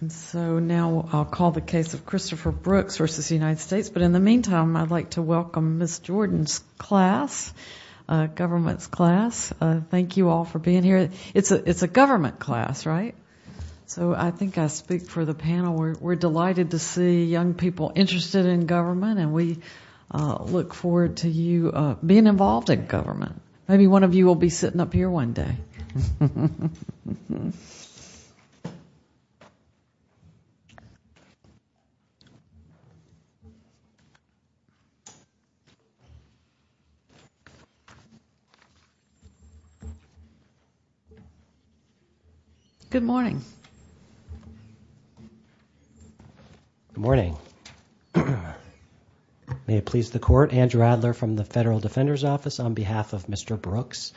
And so now I'll call the case of Christopher Brooks versus the United States. But in the meantime, I'd like to welcome Miss Jordan's class, government's class. Thank you all for being here. It's a government class, right? So I think I speak for the panel. We're delighted to see young people interested in government, and we look forward to you being involved in government. Maybe one of you will be sitting up here one day. Good morning. Good morning. May it please the court, Andrew Adler from the Federal Defender's Office on behalf of Mr. Brooks.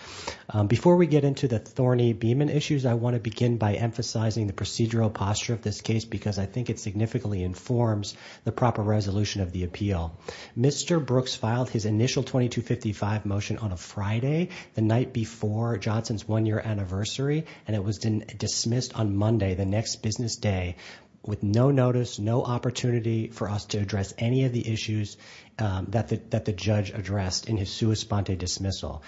Before we get into the thorny Beeman issues, I want to begin by emphasizing the procedural posture of this case because I think it significantly informs the proper resolution of the appeal. Mr. Brooks filed his initial 2255 motion on a Friday, the night before Johnson's one-year anniversary, and it was dismissed on Monday, the next business day, with no notice, no opportunity for us to address any of the issues that the judge addressed in his sua sponte dismissal.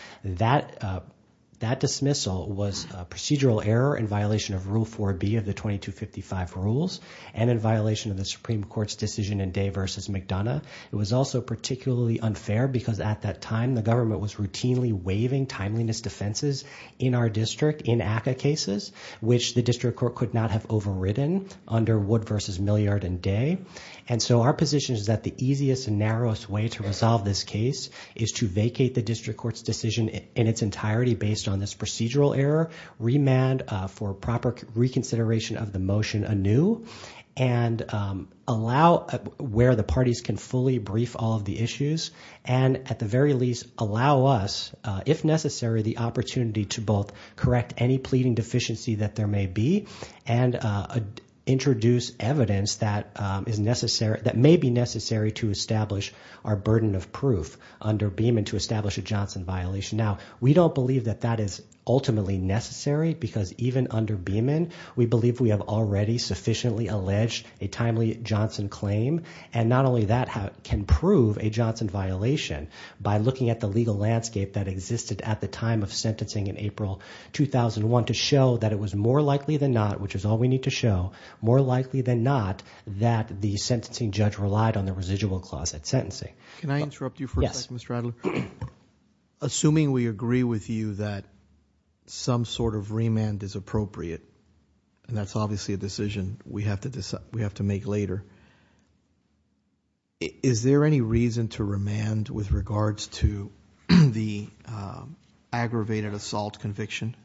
That dismissal was a procedural error in violation of Rule 4B of the 2255 rules and in violation of the Supreme Court's decision in Day v. McDonough. It was also particularly unfair because at that time, the government was routinely waiving timeliness defenses in our district in ACCA cases, which the district court could not have overridden under Wood v. Milliard and Day. And so our position is that the easiest and narrowest way to resolve this case is to vacate the district court's decision in its entirety based on this procedural error, remand for proper reconsideration of the motion anew, and allow where the parties can fully brief all of the issues, and at the very least allow us, if necessary, the opportunity to both correct any pleading deficiency that there may be and introduce evidence that may be necessary to establish our burden of proof under Beeman to establish a Johnson violation. Now, we don't believe that that is ultimately necessary because even under Beeman, we believe we have already sufficiently alleged a timely Johnson claim, and not only that can prove a Johnson violation by looking at the legal landscape that existed at the time of sentencing in April 2001 to show that it was more likely than not, which is all we need to show, more likely than not that the sentencing judge relied on the residual clause at sentencing. Can I interrupt you for a second, Mr. Adler? Yes. Assuming we agree with you that some sort of remand is appropriate, and that's obviously a decision we have to make later, is there any reason to remand with regards to the aggravated assault conviction?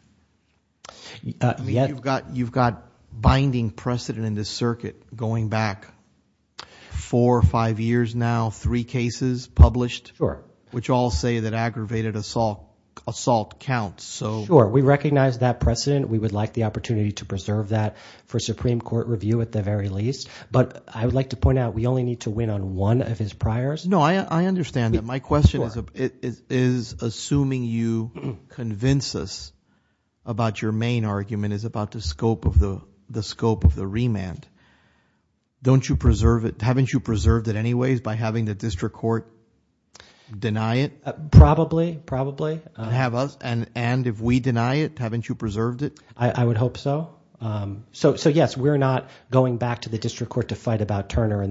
You've got binding precedent in this circuit going back four or five years now, three cases published, which all say that aggravated assault counts. Sure. We recognize that precedent. We would like the opportunity to preserve that for Supreme Court review at the very least, but I would like to point out we only need to win on one of his priors. No, I understand that. My question is assuming you convince us about your main argument is about the scope of the remand. Don't you preserve it? Haven't you preserved it anyways by having the district court deny it? Probably, probably. And if we deny it, haven't you preserved it? I would hope so. So, yes, we're not going back to the district court to fight about Turner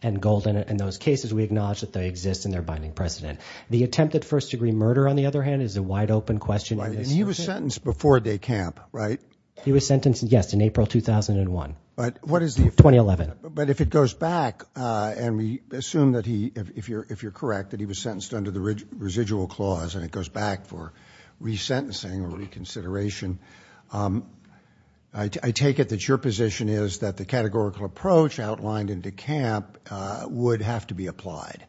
and Gold in those cases. We acknowledge that they exist and they're binding precedent. The attempted first-degree murder, on the other hand, is a wide-open question in this circuit. And he was sentenced before de camp, right? He was sentenced, yes, in April 2001. But what is the effect? 2011. But if it goes back and we assume that he, if you're correct, that he was sentenced under the residual clause and it goes back for resentencing or reconsideration, I take it that your position is that the categorical approach outlined in de camp would have to be applied.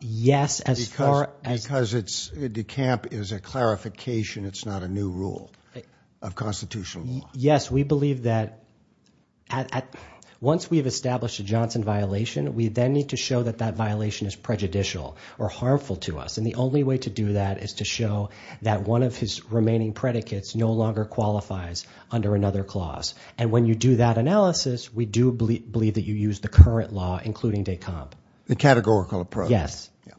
Yes, as far as. Because de camp is a clarification. It's not a new rule of constitutional law. Yes, we believe that once we've established a Johnson violation, we then need to show that that violation is prejudicial or harmful to us. And the only way to do that is to show that one of his remaining predicates no longer qualifies under another clause. And when you do that analysis, we do believe that you use the current law, including de camp. The categorical approach. Yes. Yes.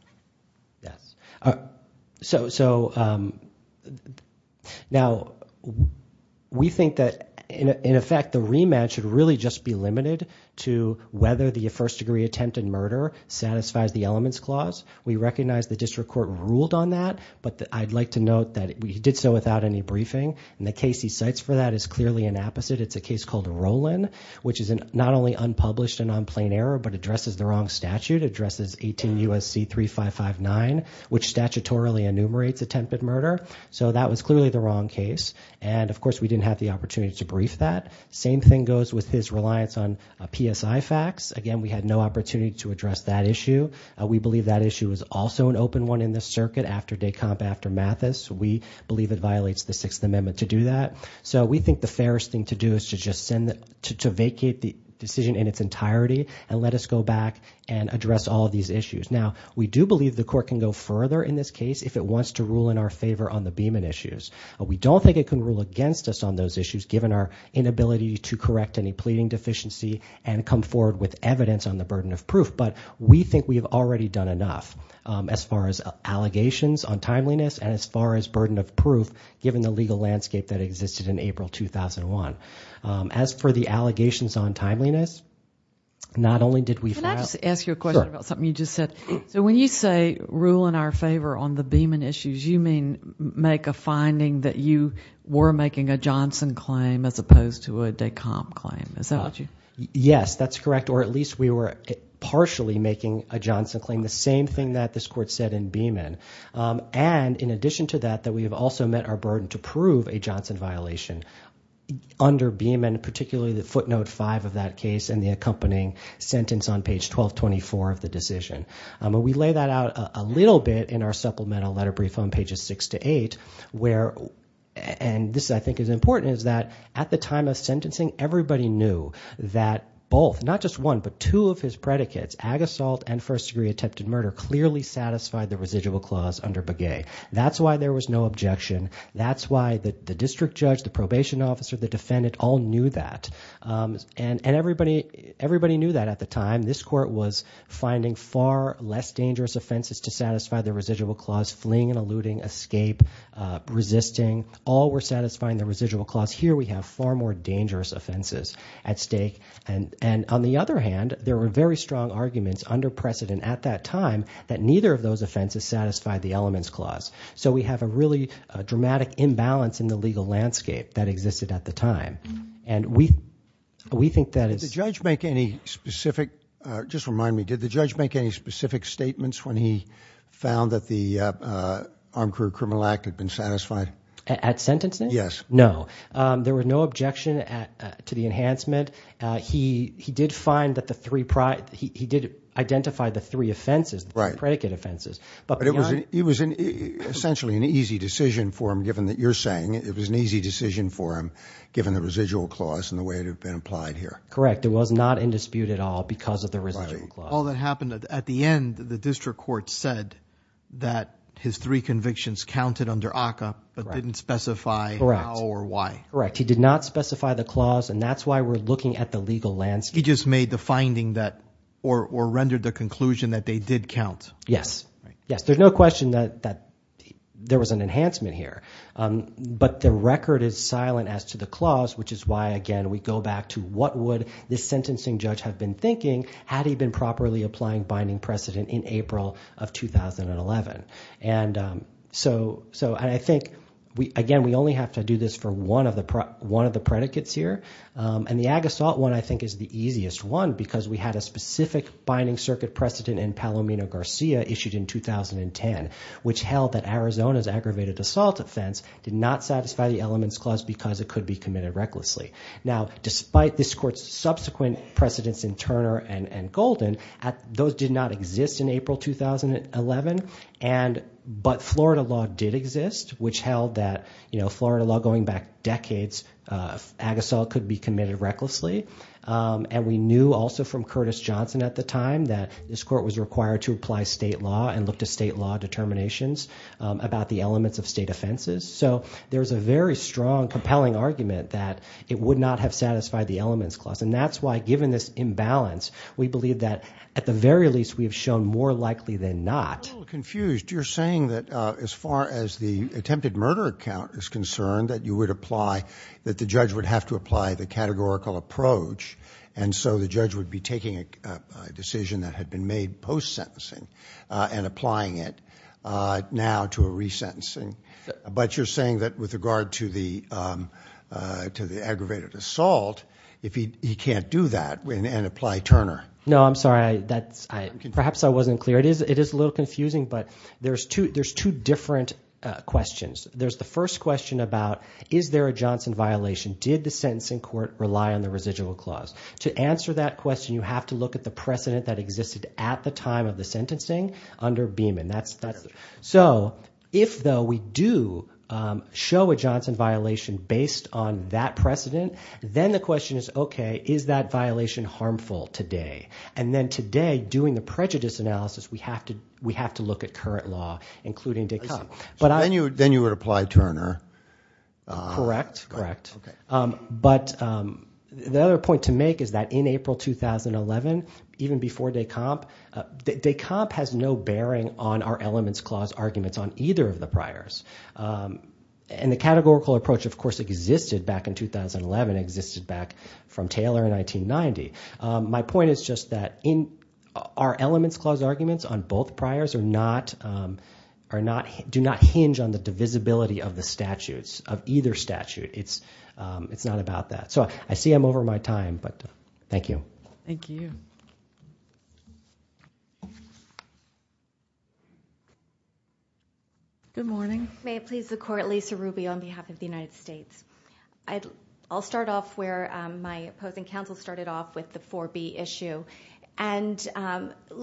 So now we think that, in effect, the rematch would really just be limited to whether the first degree attempted murder satisfies the elements clause. We recognize the district court ruled on that, but I'd like to note that we did so without any briefing. And the case he cites for that is clearly an opposite. It's a case called Rowland, which is not only unpublished and on plain error, but addresses the wrong statute, addresses 18 U.S.C. 3559, which statutorily enumerates attempted murder. So that was clearly the wrong case. And, of course, we didn't have the opportunity to brief that. Same thing goes with his reliance on PSI facts. Again, we had no opportunity to address that issue. We believe that issue is also an open one in this circuit after de camp, after Mathis. We believe it violates the Sixth Amendment to do that. So we think the fairest thing to do is to just vacate the decision in its entirety and let us go back and address all of these issues. Now, we do believe the court can go further in this case if it wants to rule in our favor on the Beeman issues. We don't think it can rule against us on those issues, given our inability to correct any pleading deficiency and come forward with evidence on the burden of proof. But we think we have already done enough as far as allegations on timeliness and as far as burden of proof, given the legal landscape that existed in April 2001. As for the allegations on timeliness, not only did we fail. Can I just ask you a question about something you just said? Sure. So when you say rule in our favor on the Beeman issues, you mean make a finding that you were making a Johnson claim as opposed to a de camp claim. Is that what you? Yes, that's correct, or at least we were partially making a Johnson claim, the same thing that this court said in Beeman. And in addition to that, that we have also met our burden to prove a Johnson violation under Beeman, particularly the footnote five of that case and the accompanying sentence on page 1224 of the decision. We lay that out a little bit in our supplemental letter brief on pages six to eight where, and this I think is important, is that at the time of sentencing, everybody knew that both, not just one, but two of his predicates, ag assault and first degree attempted murder, clearly satisfied the residual clause under Begay. That's why there was no objection. That's why the district judge, the probation officer, the defendant all knew that. And everybody knew that at the time. This court was finding far less dangerous offenses to satisfy the residual clause, fleeing and eluding, escape, resisting. All were satisfying the residual clause. Here we have far more dangerous offenses at stake. And on the other hand, there were very strong arguments under precedent at that time that neither of those offenses satisfied the elements clause. So we have a really dramatic imbalance in the legal landscape that existed at the time. And we think that is... Did the judge make any specific, just remind me, did the judge make any specific statements when he found that the Armed Career Criminal Act had been satisfied? At sentencing? Yes. No. There was no objection to the enhancement. He did find that the three, he did identify the three offenses, the three predicate offenses. But it was essentially an easy decision for him, given that you're saying it was an easy decision for him, given the residual clause and the way it had been applied here. Correct. It was not in dispute at all because of the residual clause. All that happened at the end, the district court said that his three convictions counted under ACCA, but didn't specify how or why. Correct. He did not specify the clause, and that's why we're looking at the legal landscape. He just made the finding that, or rendered the conclusion that they did count. Yes. Yes, there's no question that there was an enhancement here. But the record is silent as to the clause, which is why, again, we go back to what would the sentencing judge have been thinking had he been properly applying binding precedent in April of 2011. And so I think, again, we only have to do this for one of the predicates here. And the ag-assault one, I think, is the easiest one because we had a specific binding circuit precedent in Palomino-Garcia issued in 2010, which held that Arizona's aggravated assault offense did not satisfy the elements clause because it could be committed recklessly. Now, despite this court's subsequent precedents in Turner and Golden, those did not exist in April 2011. But Florida law did exist, which held that Florida law going back decades, ag-assault could be committed recklessly. And we knew also from Curtis Johnson at the time that this court was required to apply state law and look to state law determinations about the elements of state offenses. So there's a very strong, compelling argument that it would not have satisfied the elements clause. And that's why, given this imbalance, we believe that at the very least we have shown more likely than not. I'm a little confused. You're saying that as far as the attempted murder account is concerned that you would apply – that the judge would have to apply the categorical approach. And so the judge would be taking a decision that had been made post-sentencing and applying it now to a resentencing. But you're saying that with regard to the aggravated assault, he can't do that and apply Turner. No, I'm sorry. Perhaps I wasn't clear. It is a little confusing, but there's two different questions. There's the first question about is there a Johnson violation? Did the sentencing court rely on the residual clause? To answer that question, you have to look at the precedent that existed at the time of the sentencing under Beeman. So if, though, we do show a Johnson violation based on that precedent, then the question is, okay, is that violation harmful today? And then today, doing the prejudice analysis, we have to look at current law, including Descamp. Then you would apply Turner. Correct, correct. But the other point to make is that in April 2011, even before Descamp, Descamp has no bearing on our elements clause arguments on either of the priors. And the categorical approach, of course, existed back in 2011, existed back from Taylor in 1990. My point is just that our elements clause arguments on both priors do not hinge on the divisibility of the statutes, of either statute. It's not about that. So I see I'm over my time, but thank you. Thank you. Good morning. May it please the court, Lisa Ruby on behalf of the United States. I'll start off where my opposing counsel started off with the 4B issue. And what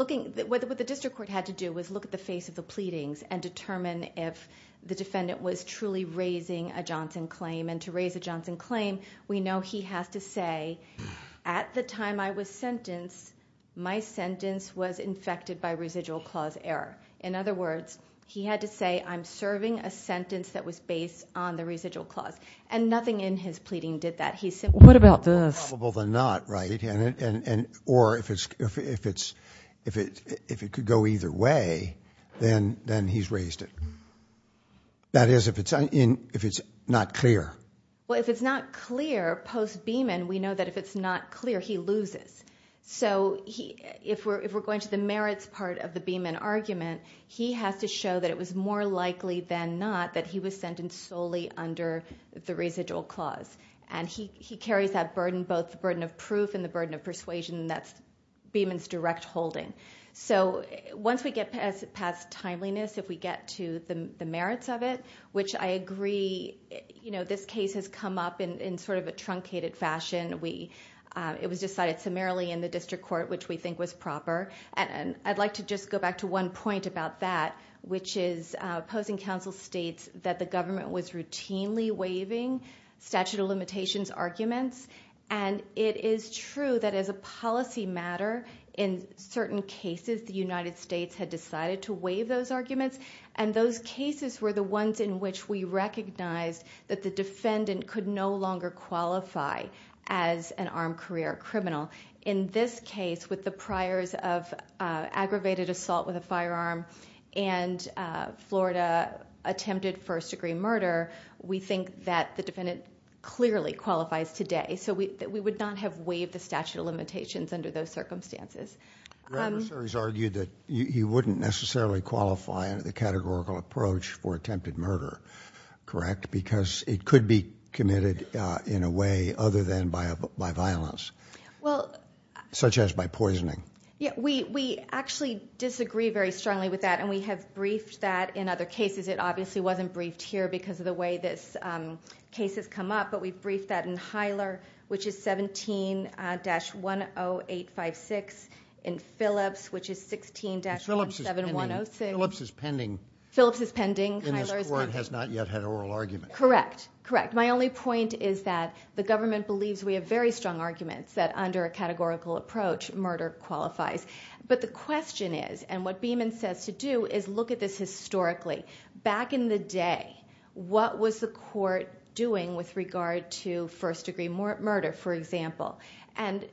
the district court had to do was look at the face of the pleadings and determine if the defendant was truly raising a Johnson claim. And to raise a Johnson claim, we know he has to say, at the time I was sentenced, my sentence was infected by residual clause error. In other words, he had to say, I'm serving a sentence that was based on the residual clause. And nothing in his pleading did that. What about this? More probable than not, right? Or if it could go either way, then he's raised it. That is, if it's not clear. Well, if it's not clear, post-Beaman, we know that if it's not clear, he loses. So if we're going to the merits part of the Beaman argument, he has to show that it was more likely than not that he was sentenced solely under the residual clause. And he carries that burden, both the burden of proof and the burden of persuasion, and that's Beaman's direct holding. So once we get past timeliness, if we get to the merits of it, which I agree, you know, this case has come up in sort of a truncated fashion. It was decided summarily in the district court, which we think was proper. And I'd like to just go back to one point about that, which is opposing counsel states that the government was routinely waiving statute of limitations arguments. And it is true that as a policy matter, in certain cases, the United States had decided to waive those arguments. And those cases were the ones in which we recognized that the defendant could no longer qualify as an armed career criminal. In this case, with the priors of aggravated assault with a firearm and Florida attempted first degree murder, we think that the defendant clearly qualifies today. So we would not have waived the statute of limitations under those circumstances. Your adversaries argued that he wouldn't necessarily qualify under the categorical approach for attempted murder, correct? Because it could be committed in a way other than by violence. Such as by poisoning. We actually disagree very strongly with that. And we have briefed that in other cases. It obviously wasn't briefed here because of the way this case has come up. But we've briefed that in Hyler, which is 17-10856. In Phillips, which is 16-107106. Phillips is pending. Phillips is pending. In this court has not yet had oral argument. Correct. Correct. My only point is that the government believes we have very strong arguments that under a categorical approach, murder qualifies. But the question is, and what Beeman says to do, is look at this historically. Back in the day, what was the court doing with regard to first degree murder, for example? And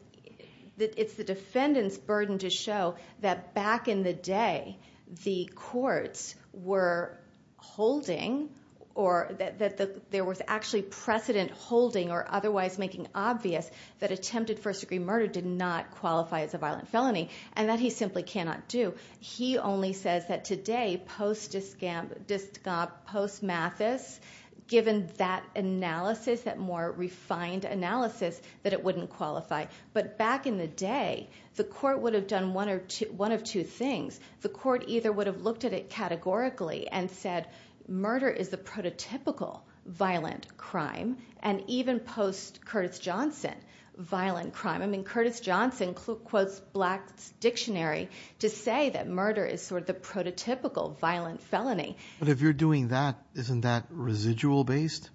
it's the defendant's burden to show that back in the day, the courts were holding or that there was actually precedent holding or otherwise making obvious that attempted first degree murder did not qualify as a violent felony. And that he simply cannot do. He only says that today, post-Mathis, given that analysis, that more refined analysis, that it wouldn't qualify. But back in the day, the court would have done one of two things. The court either would have looked at it categorically and said, murder is the prototypical violent crime. And even post-Curtis Johnson, violent crime. I mean, Curtis Johnson quotes Black's dictionary to say that murder is sort of the prototypical violent felony. But if you're doing that, isn't that residual based?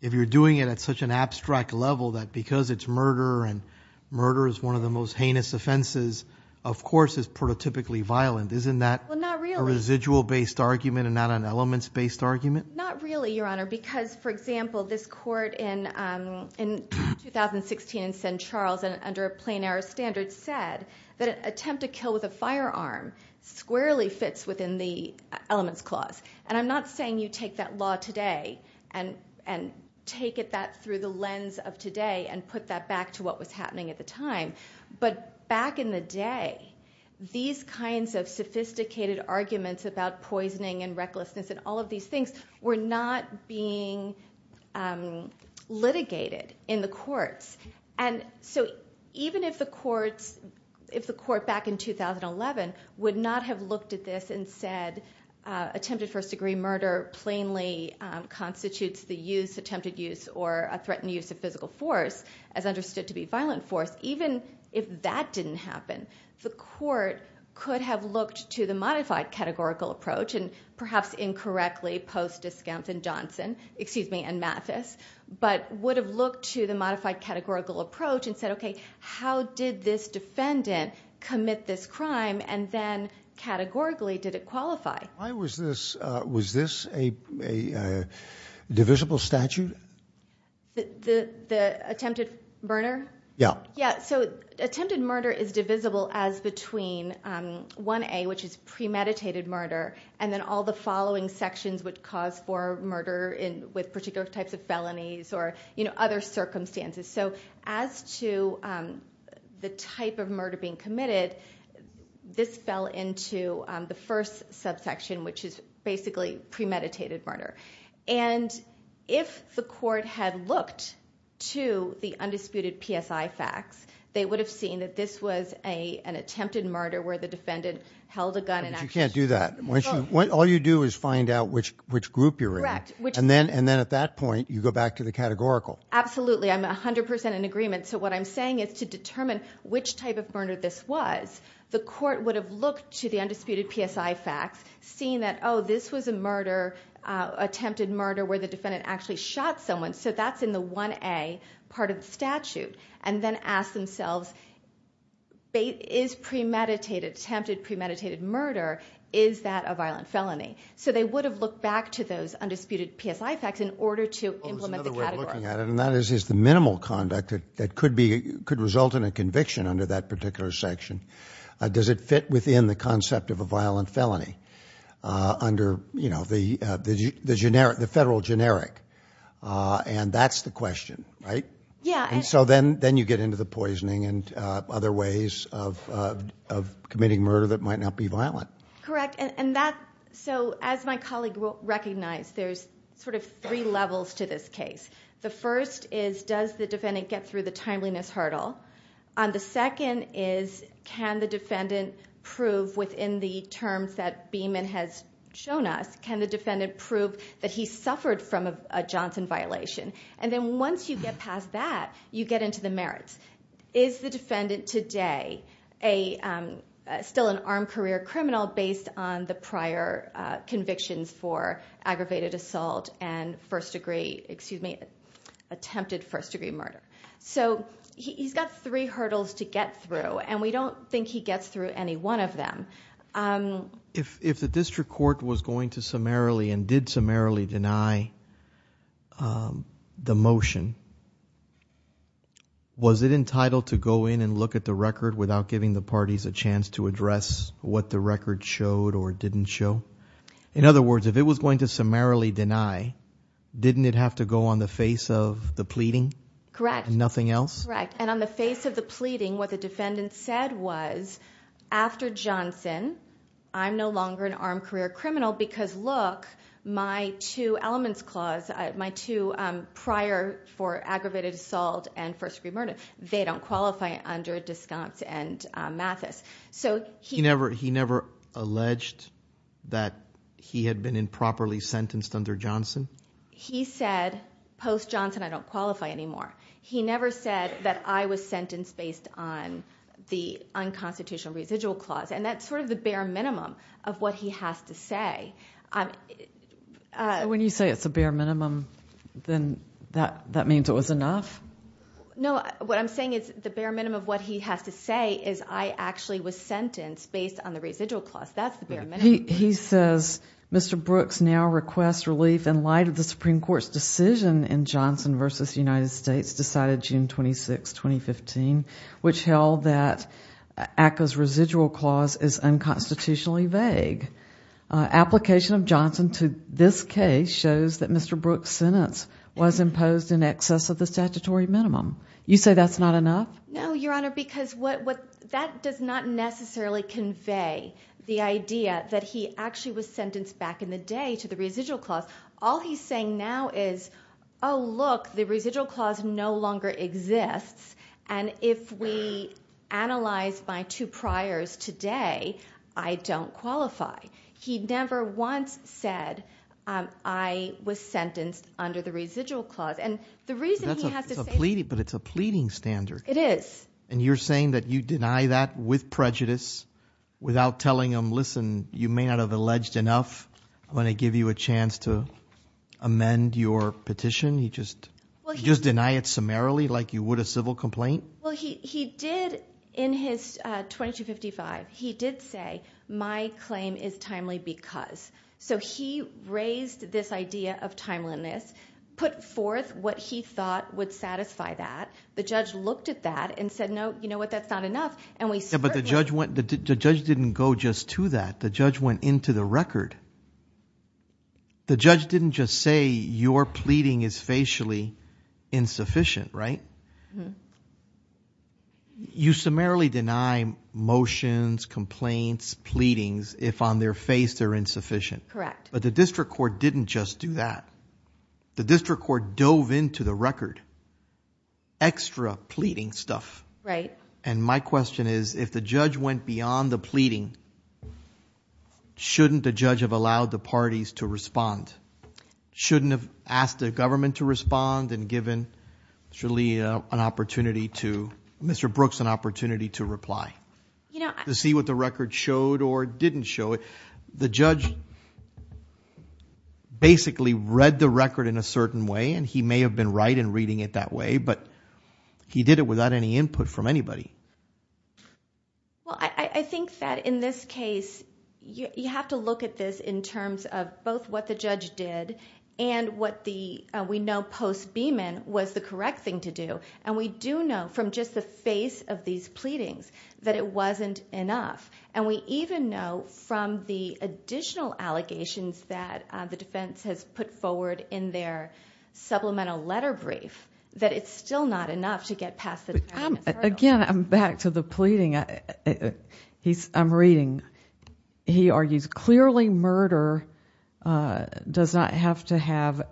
If you're doing it at such an abstract level that because it's murder and murder is one of the most heinous offenses, of course it's prototypically violent. Isn't that a residual based argument and not an elements based argument? Not really, Your Honor. Because, for example, this court in 2016 in St. Charles under a plain error standard said that an attempt to kill with a firearm squarely fits within the elements clause. And I'm not saying you take that law today and take that through the lens of today and put that back to what was happening at the time. But back in the day, these kinds of sophisticated arguments about poisoning and recklessness and all of these things were not being litigated in the courts. And so even if the courts, if the court back in 2011 would not have looked at this and said attempted first degree murder plainly constitutes the use, or a threatened use of physical force as understood to be violent force, even if that didn't happen, the court could have looked to the modified categorical approach and perhaps incorrectly post-Discounts and Johnson, excuse me, and Mathis, but would have looked to the modified categorical approach and said, okay, how did this defendant commit this crime and then categorically did it qualify? Why was this, was this a divisible statute? The attempted murder? Yeah. Yeah, so attempted murder is divisible as between 1A, which is premeditated murder, and then all the following sections would cause for murder with particular types of felonies or other circumstances. So as to the type of murder being committed, this fell into the first subsection, which is basically premeditated murder. And if the court had looked to the undisputed PSI facts, they would have seen that this was an attempted murder where the defendant held a gun and actually- But you can't do that. All you do is find out which group you're in. Correct. And then at that point, you go back to the categorical. Absolutely. I'm 100% in agreement. So what I'm saying is to determine which type of murder this was, the court would have looked to the undisputed PSI facts, seen that, oh, this was a murder, attempted murder where the defendant actually shot someone, so that's in the 1A part of the statute, and then asked themselves, is premeditated, attempted premeditated murder, is that a violent felony? So they would have looked back to those undisputed PSI facts in order to implement the category. And that is the minimal conduct that could result in a conviction under that particular section. Does it fit within the concept of a violent felony under the federal generic? And that's the question, right? Yeah. And so then you get into the poisoning and other ways of committing murder that might not be violent. Correct. So as my colleague recognized, there's sort of three levels to this case. The first is, does the defendant get through the timeliness hurdle? The second is, can the defendant prove within the terms that Beeman has shown us, can the defendant prove that he suffered from a Johnson violation? And then once you get past that, you get into the merits. Is the defendant today still an armed career criminal based on the prior convictions for aggravated assault and attempted first-degree murder? So he's got three hurdles to get through, and we don't think he gets through any one of them. If the district court was going to summarily and did summarily deny the motion, was it entitled to go in and look at the record without giving the parties a chance to address what the record showed or didn't show? In other words, if it was going to summarily deny, didn't it have to go on the face of the pleading and nothing else? Correct. And on the face of the pleading, what the defendant said was, after Johnson, I'm no longer an armed career criminal because, look, my two elements clause, my two prior for aggravated assault and first-degree murder, they don't qualify under Descantz and Mathis. He never alleged that he had been improperly sentenced under Johnson? He said, post-Johnson, I don't qualify anymore. He never said that I was sentenced based on the unconstitutional residual clause, and that's sort of the bare minimum of what he has to say. When you say it's a bare minimum, then that means it was enough? No, what I'm saying is the bare minimum of what he has to say is I actually was sentenced based on the residual clause. That's the bare minimum. But he says Mr. Brooks now requests relief in light of the Supreme Court's decision in Johnson v. United States decided June 26, 2015, which held that ACCA's residual clause is unconstitutionally vague. Application of Johnson to this case shows that Mr. Brooks' sentence was imposed in excess of the statutory minimum. You say that's not enough? No, Your Honor, because that does not necessarily convey the idea that he actually was sentenced back in the day to the residual clause. All he's saying now is, oh, look, the residual clause no longer exists, and if we analyze my two priors today, I don't qualify. He never once said I was sentenced under the residual clause. But it's a pleading standard. It is. And you're saying that you deny that with prejudice, without telling him, listen, you may not have alleged enough. I'm going to give you a chance to amend your petition. You just deny it summarily like you would a civil complaint? Well, he did in his 2255, he did say my claim is timely because. So he raised this idea of timeliness, put forth what he thought would satisfy that. The judge looked at that and said, no, you know what, that's not enough. But the judge didn't go just to that. The judge went into the record. The judge didn't just say your pleading is facially insufficient, right? You summarily deny motions, complaints, pleadings, if on their face they're insufficient. Correct. But the district court didn't just do that. The district court dove into the record, extra pleading stuff. Right. And my question is, if the judge went beyond the pleading, shouldn't the judge have allowed the parties to respond? Shouldn't have asked the government to respond and given Mr. Lee an opportunity to, Mr. Brooks an opportunity to reply? To see what the record showed or didn't show. The judge basically read the record in a certain way, and he may have been right in reading it that way, but he did it without any input from anybody. Well, I think that in this case, you have to look at this in terms of both what the judge did and what we know post-Beeman was the correct thing to do. And we do know from just the face of these pleadings that it wasn't enough. And we even know from the additional allegations that the defense has put forward in their supplemental letter brief that it's still not enough to get past the department's hurdles. Again, back to the pleading, I'm reading, he argues, clearly murder does not have to have,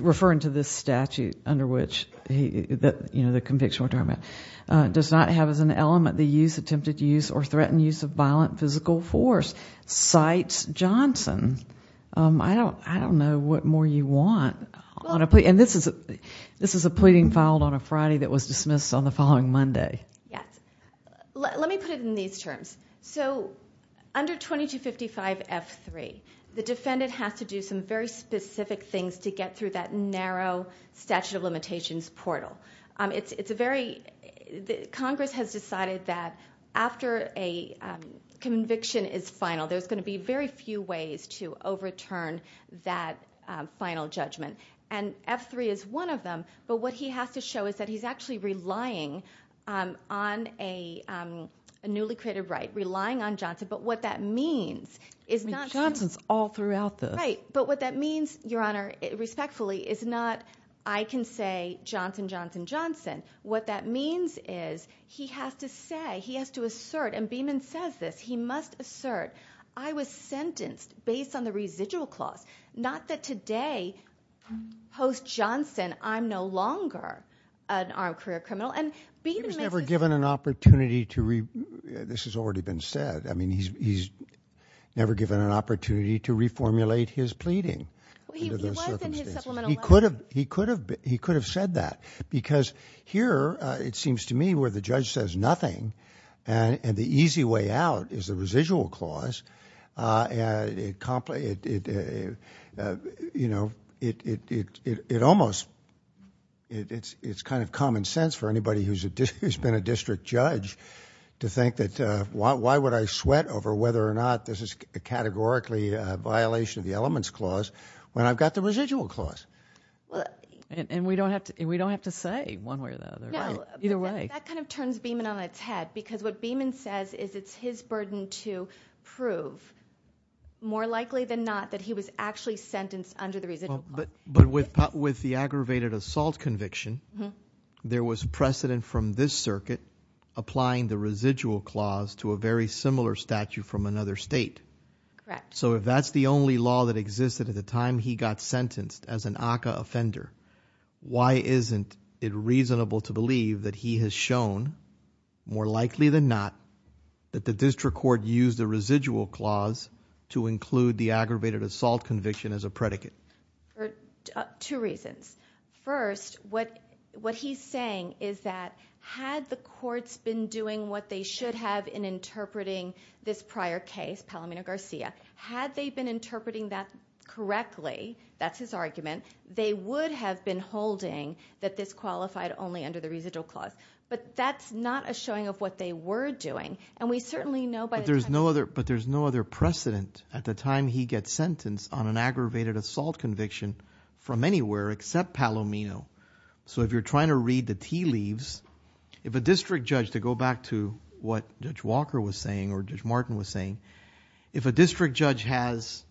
referring to this statute under which the conviction we're talking about, does not have as an element the use, attempted use, or threatened use of violent physical force, cites Johnson. I don't know what more you want on a plea. And this is a pleading filed on a Friday that was dismissed on the following Monday. Yes. Let me put it in these terms. So under 2255F3, the defendant has to do some very specific things to get through that narrow statute of limitations portal. It's a very, Congress has decided that after a conviction is final, there's going to be very few ways to overturn that final judgment. And F3 is one of them. But what he has to show is that he's actually relying on a newly created right, relying on Johnson. But what that means is not- Johnson's all throughout the- Right. But what that means, Your Honor, respectfully, is not I can say Johnson, Johnson, Johnson. What that means is he has to say, he has to assert, and Beeman says this, he must assert, I was sentenced based on the residual clause. Not that today, post-Johnson, I'm no longer an armed career criminal. And Beeman makes this- He was never given an opportunity to, this has already been said. I mean, he's never given an opportunity to reformulate his pleading under those circumstances. He was in his supplemental- He could have said that. Because here, it seems to me, where the judge says nothing, and the easy way out is the residual clause, it, you know, it almost, it's kind of common sense for anybody who's been a district judge to think that why would I sweat over whether or not this is categorically a violation of the elements clause when I've got the residual clause? And we don't have to say one way or the other, right? No. Either way. That kind of turns Beeman on its head because what Beeman says is it's his burden to prove, more likely than not, that he was actually sentenced under the residual clause. But with the aggravated assault conviction, there was precedent from this circuit applying the residual clause to a very similar statute from another state. Correct. So if that's the only law that existed at the time he got sentenced as an ACA offender, why isn't it reasonable to believe that he has shown, more likely than not, that the district court used the residual clause to include the aggravated assault conviction as a predicate? For two reasons. First, what he's saying is that had the courts been doing what they should have in interpreting this prior case, Palomino-Garcia, had they been interpreting that correctly, that's his argument, they would have been holding that this qualified only under the residual clause. But that's not a showing of what they were doing, and we certainly know by the time But there's no other precedent at the time he gets sentenced on an aggravated assault conviction from anywhere except Palomino. So if you're trying to read the tea leaves, if a district judge, to go back to what Judge Walker was saying or Judge Martin was saying, if a district judge has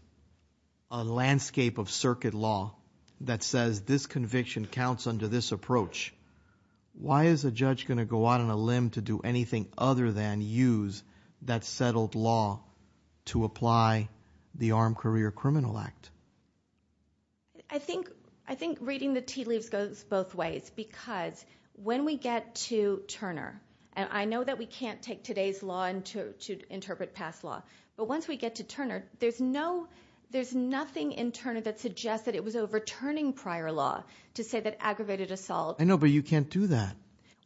a landscape of circuit law that says this conviction counts under this approach, why is a judge going to go out on a limb to do anything other than use that settled law to apply the Armed Career Criminal Act? I think reading the tea leaves goes both ways, because when we get to Turner, and I know that we can't take today's law to interpret past law, but once we get to Turner, there's nothing in Turner that suggests that it was overturning prior law to say that aggravated assault I know, but you can't do that.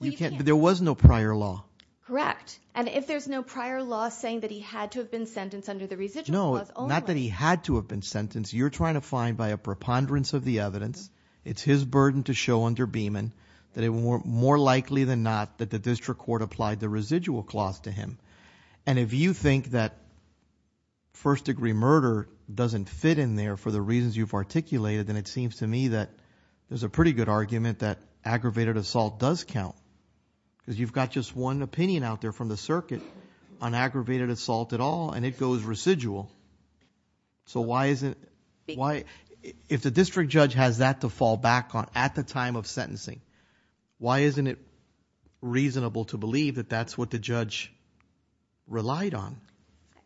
There was no prior law. Correct. And if there's no prior law saying that he had to have been sentenced under the residual clause Not that he had to have been sentenced. You're trying to find by a preponderance of the evidence, it's his burden to show under Beeman that it was more likely than not that the district court applied the residual clause to him. And if you think that first degree murder doesn't fit in there for the reasons you've articulated, then it seems to me that there's a pretty good argument that aggravated assault does count, because you've got just one opinion out there from the circuit on aggravated assault at all, and it goes residual. If the district judge has that to fall back on at the time of sentencing, why isn't it reasonable to believe that that's what the judge relied on?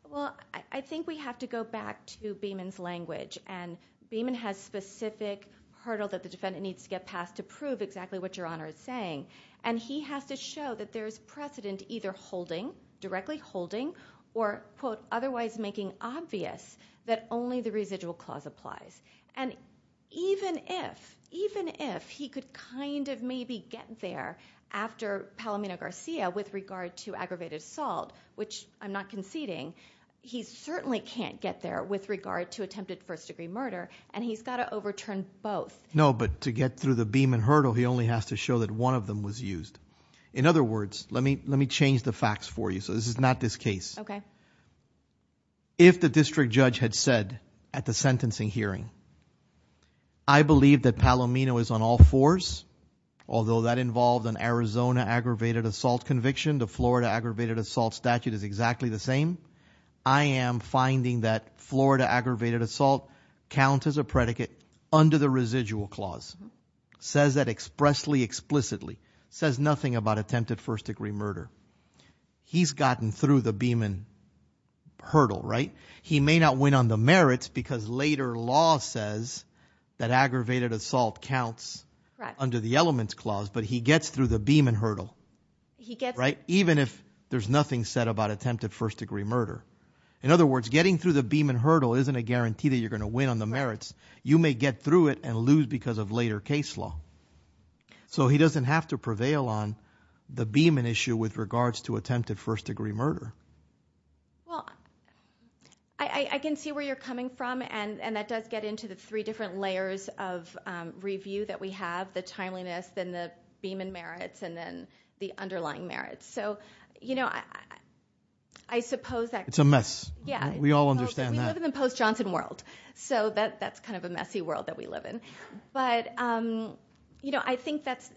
Well, I think we have to go back to Beeman's language, and Beeman has specific hurdles that the defendant needs to get past to prove exactly what Your Honor is saying. And he has to show that there's precedent either holding, directly holding, or quote, otherwise making obvious that only the residual clause applies. And even if, even if he could kind of maybe get there after Palomino-Garcia with regard to aggravated assault, which I'm not conceding, he certainly can't get there with regard to attempted first degree murder, and he's got to overturn both. No, but to get through the Beeman hurdle, he only has to show that one of them was used. In other words, let me change the facts for you, so this is not this case. Okay. If the district judge had said at the sentencing hearing, I believe that Palomino is on all fours, although that involved an Arizona aggravated assault conviction. The Florida aggravated assault statute is exactly the same. I am finding that Florida aggravated assault counts as a predicate under the residual clause. It says that expressly, explicitly. It says nothing about attempted first degree murder. He's gotten through the Beeman hurdle, right? He may not win on the merits because later law says that aggravated assault counts under the elements clause, but he gets through the Beeman hurdle, right? Even if there's nothing said about attempted first degree murder. In other words, getting through the Beeman hurdle isn't a guarantee that you're going to win on the merits. You may get through it and lose because of later case law. So he doesn't have to prevail on the Beeman issue with regards to attempted first degree murder. Well, I can see where you're coming from, and that does get into the three different layers of review that we have, the timeliness, then the Beeman merits, and then the underlying merits. So, you know, I suppose that... It's a mess. Yeah. We all understand that. We live in the post-Johnson world, so that's kind of a messy world that we live in. But, you know, I think that's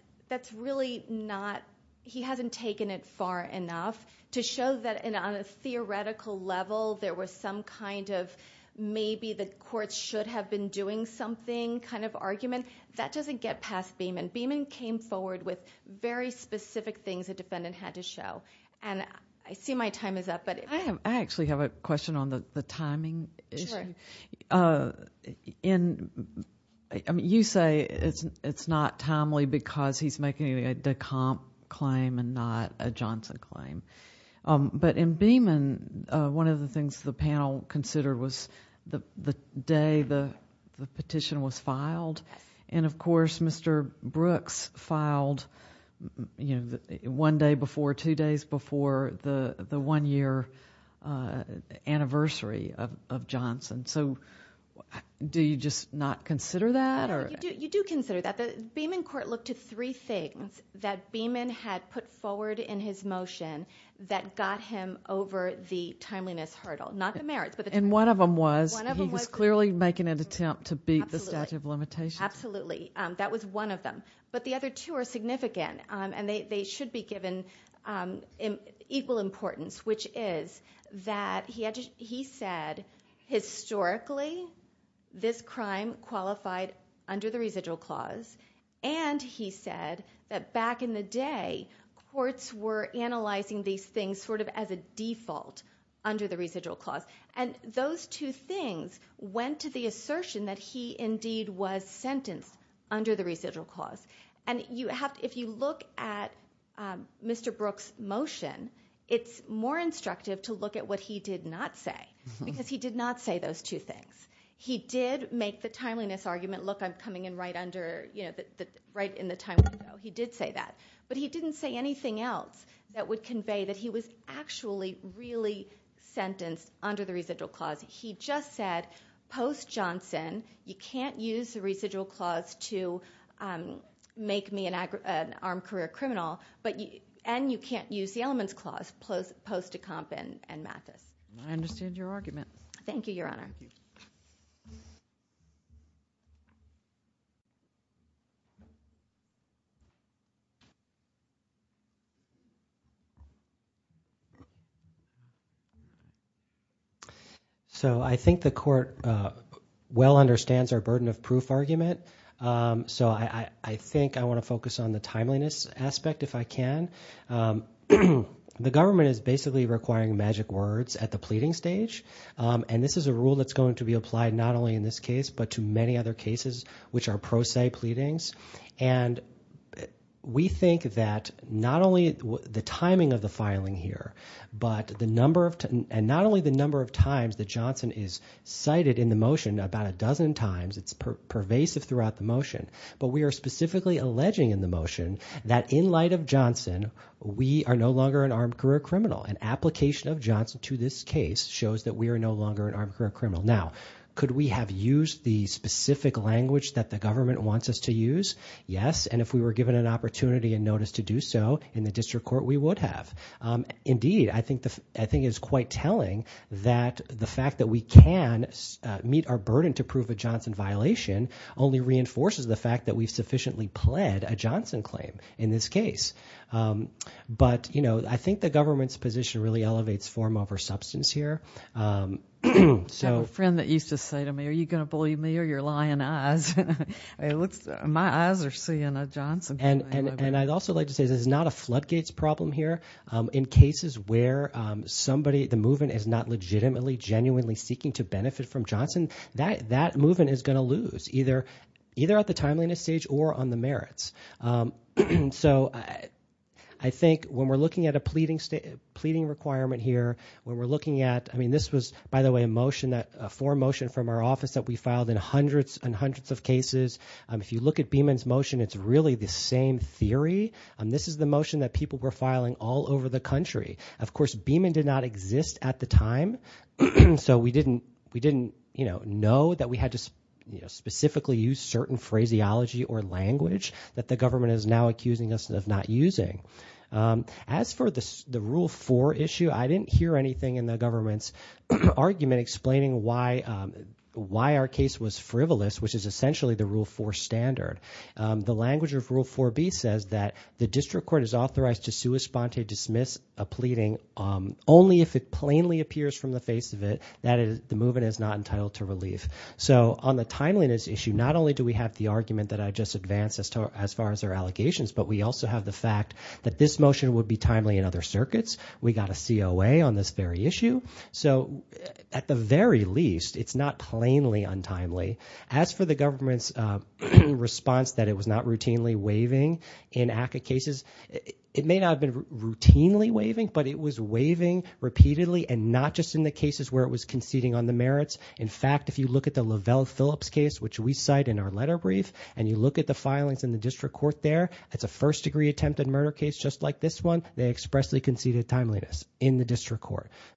really not... He hasn't taken it far enough to show that on a theoretical level, there was some kind of maybe the courts should have been doing something kind of argument. That doesn't get past Beeman. Beeman came forward with very specific things the defendant had to show. And I see my time is up, but... I actually have a question on the timing issue. Sure. You say it's not timely because he's making a DeCompte claim and not a Johnson claim. But in Beeman, one of the things the panel considered was the day the petition was filed. And, of course, Mr. Brooks filed one day before, two days before the one-year anniversary of Johnson. So, do you just not consider that? You do consider that. The Beeman court looked at three things that Beeman had put forward in his motion that got him over the timeliness hurdle. Not the merits. And one of them was he was clearly making an attempt to beat the statute of limitations. Absolutely. That was one of them. But the other two are significant, and they should be given equal importance, which is that he said, historically, this crime qualified under the residual clause. And he said that back in the day, courts were analyzing these things sort of as a default under the residual clause. And those two things went to the assertion that he indeed was sentenced under the residual clause. If you look at Mr. Brooks' motion, it's more instructive to look at what he did not say, because he did not say those two things. He did make the timeliness argument, look, I'm coming in right in the time window. He did say that. But he didn't say anything else that would convey that he was actually really sentenced under the residual clause. He just said, post Johnson, you can't use the residual clause to make me an armed career criminal, and you can't use the elements clause post Decomp and Mathis. I understand your argument. Thank you, Your Honor. So I think the court well understands our burden of proof argument. So I think I want to focus on the timeliness aspect, if I can. The government is basically requiring magic words at the pleading stage, and this is a rule that's going to be applied not only in this case but to many other cases, which are pro se pleadings. And we think that not only the timing of the filing here and not only the number of times that Johnson is cited in the motion, about a dozen times, it's pervasive throughout the motion, but we are specifically alleging in the motion that in light of Johnson, we are no longer an armed career criminal. An application of Johnson to this case shows that we are no longer an armed career criminal. Now, could we have used the specific language that the government wants us to use? Yes, and if we were given an opportunity and notice to do so in the district court, we would have. Indeed, I think it's quite telling that the fact that we can meet our burden to prove a Johnson violation only reinforces the fact that we've sufficiently pled a Johnson claim in this case. But, you know, I think the government's position really elevates form over substance here. I have a friend that used to say to me, are you going to believe me or your lying eyes? My eyes are seeing a Johnson claim. And I'd also like to say this is not a floodgates problem here. In cases where somebody, the movement is not legitimately, genuinely seeking to benefit from Johnson, that movement is going to lose either at the timeliness stage or on the merits. So I think when we're looking at a pleading requirement here, when we're looking at, I mean, this was, by the way, a motion, a form motion from our office that we filed in hundreds and hundreds of cases. If you look at Beeman's motion, it's really the same theory. This is the motion that people were filing all over the country. Of course, Beeman did not exist at the time. So we didn't, you know, know that we had to specifically use certain phraseology or language that the government is now accusing us of not using. As for the Rule 4 issue, I didn't hear anything in the government's argument explaining why our case was frivolous, which is essentially the Rule 4 standard. The language of Rule 4B says that the district court is authorized to sua sponte, dismiss a pleading, only if it plainly appears from the face of it that the movement is not entitled to relief. So on the timeliness issue, not only do we have the argument that I just advanced as far as our allegations, but we also have the fact that this motion would be timely in other circuits. We got a COA on this very issue. So at the very least, it's not plainly untimely. As for the government's response that it was not routinely waiving in ACCA cases, it may not have been routinely waiving, but it was waiving repeatedly and not just in the cases where it was conceding on the merits. In fact, if you look at the Lavelle Phillips case, which we cite in our letter brief, and you look at the filings in the district court there, it's a first-degree attempted murder case just like this one. They expressly conceded timeliness in the district court.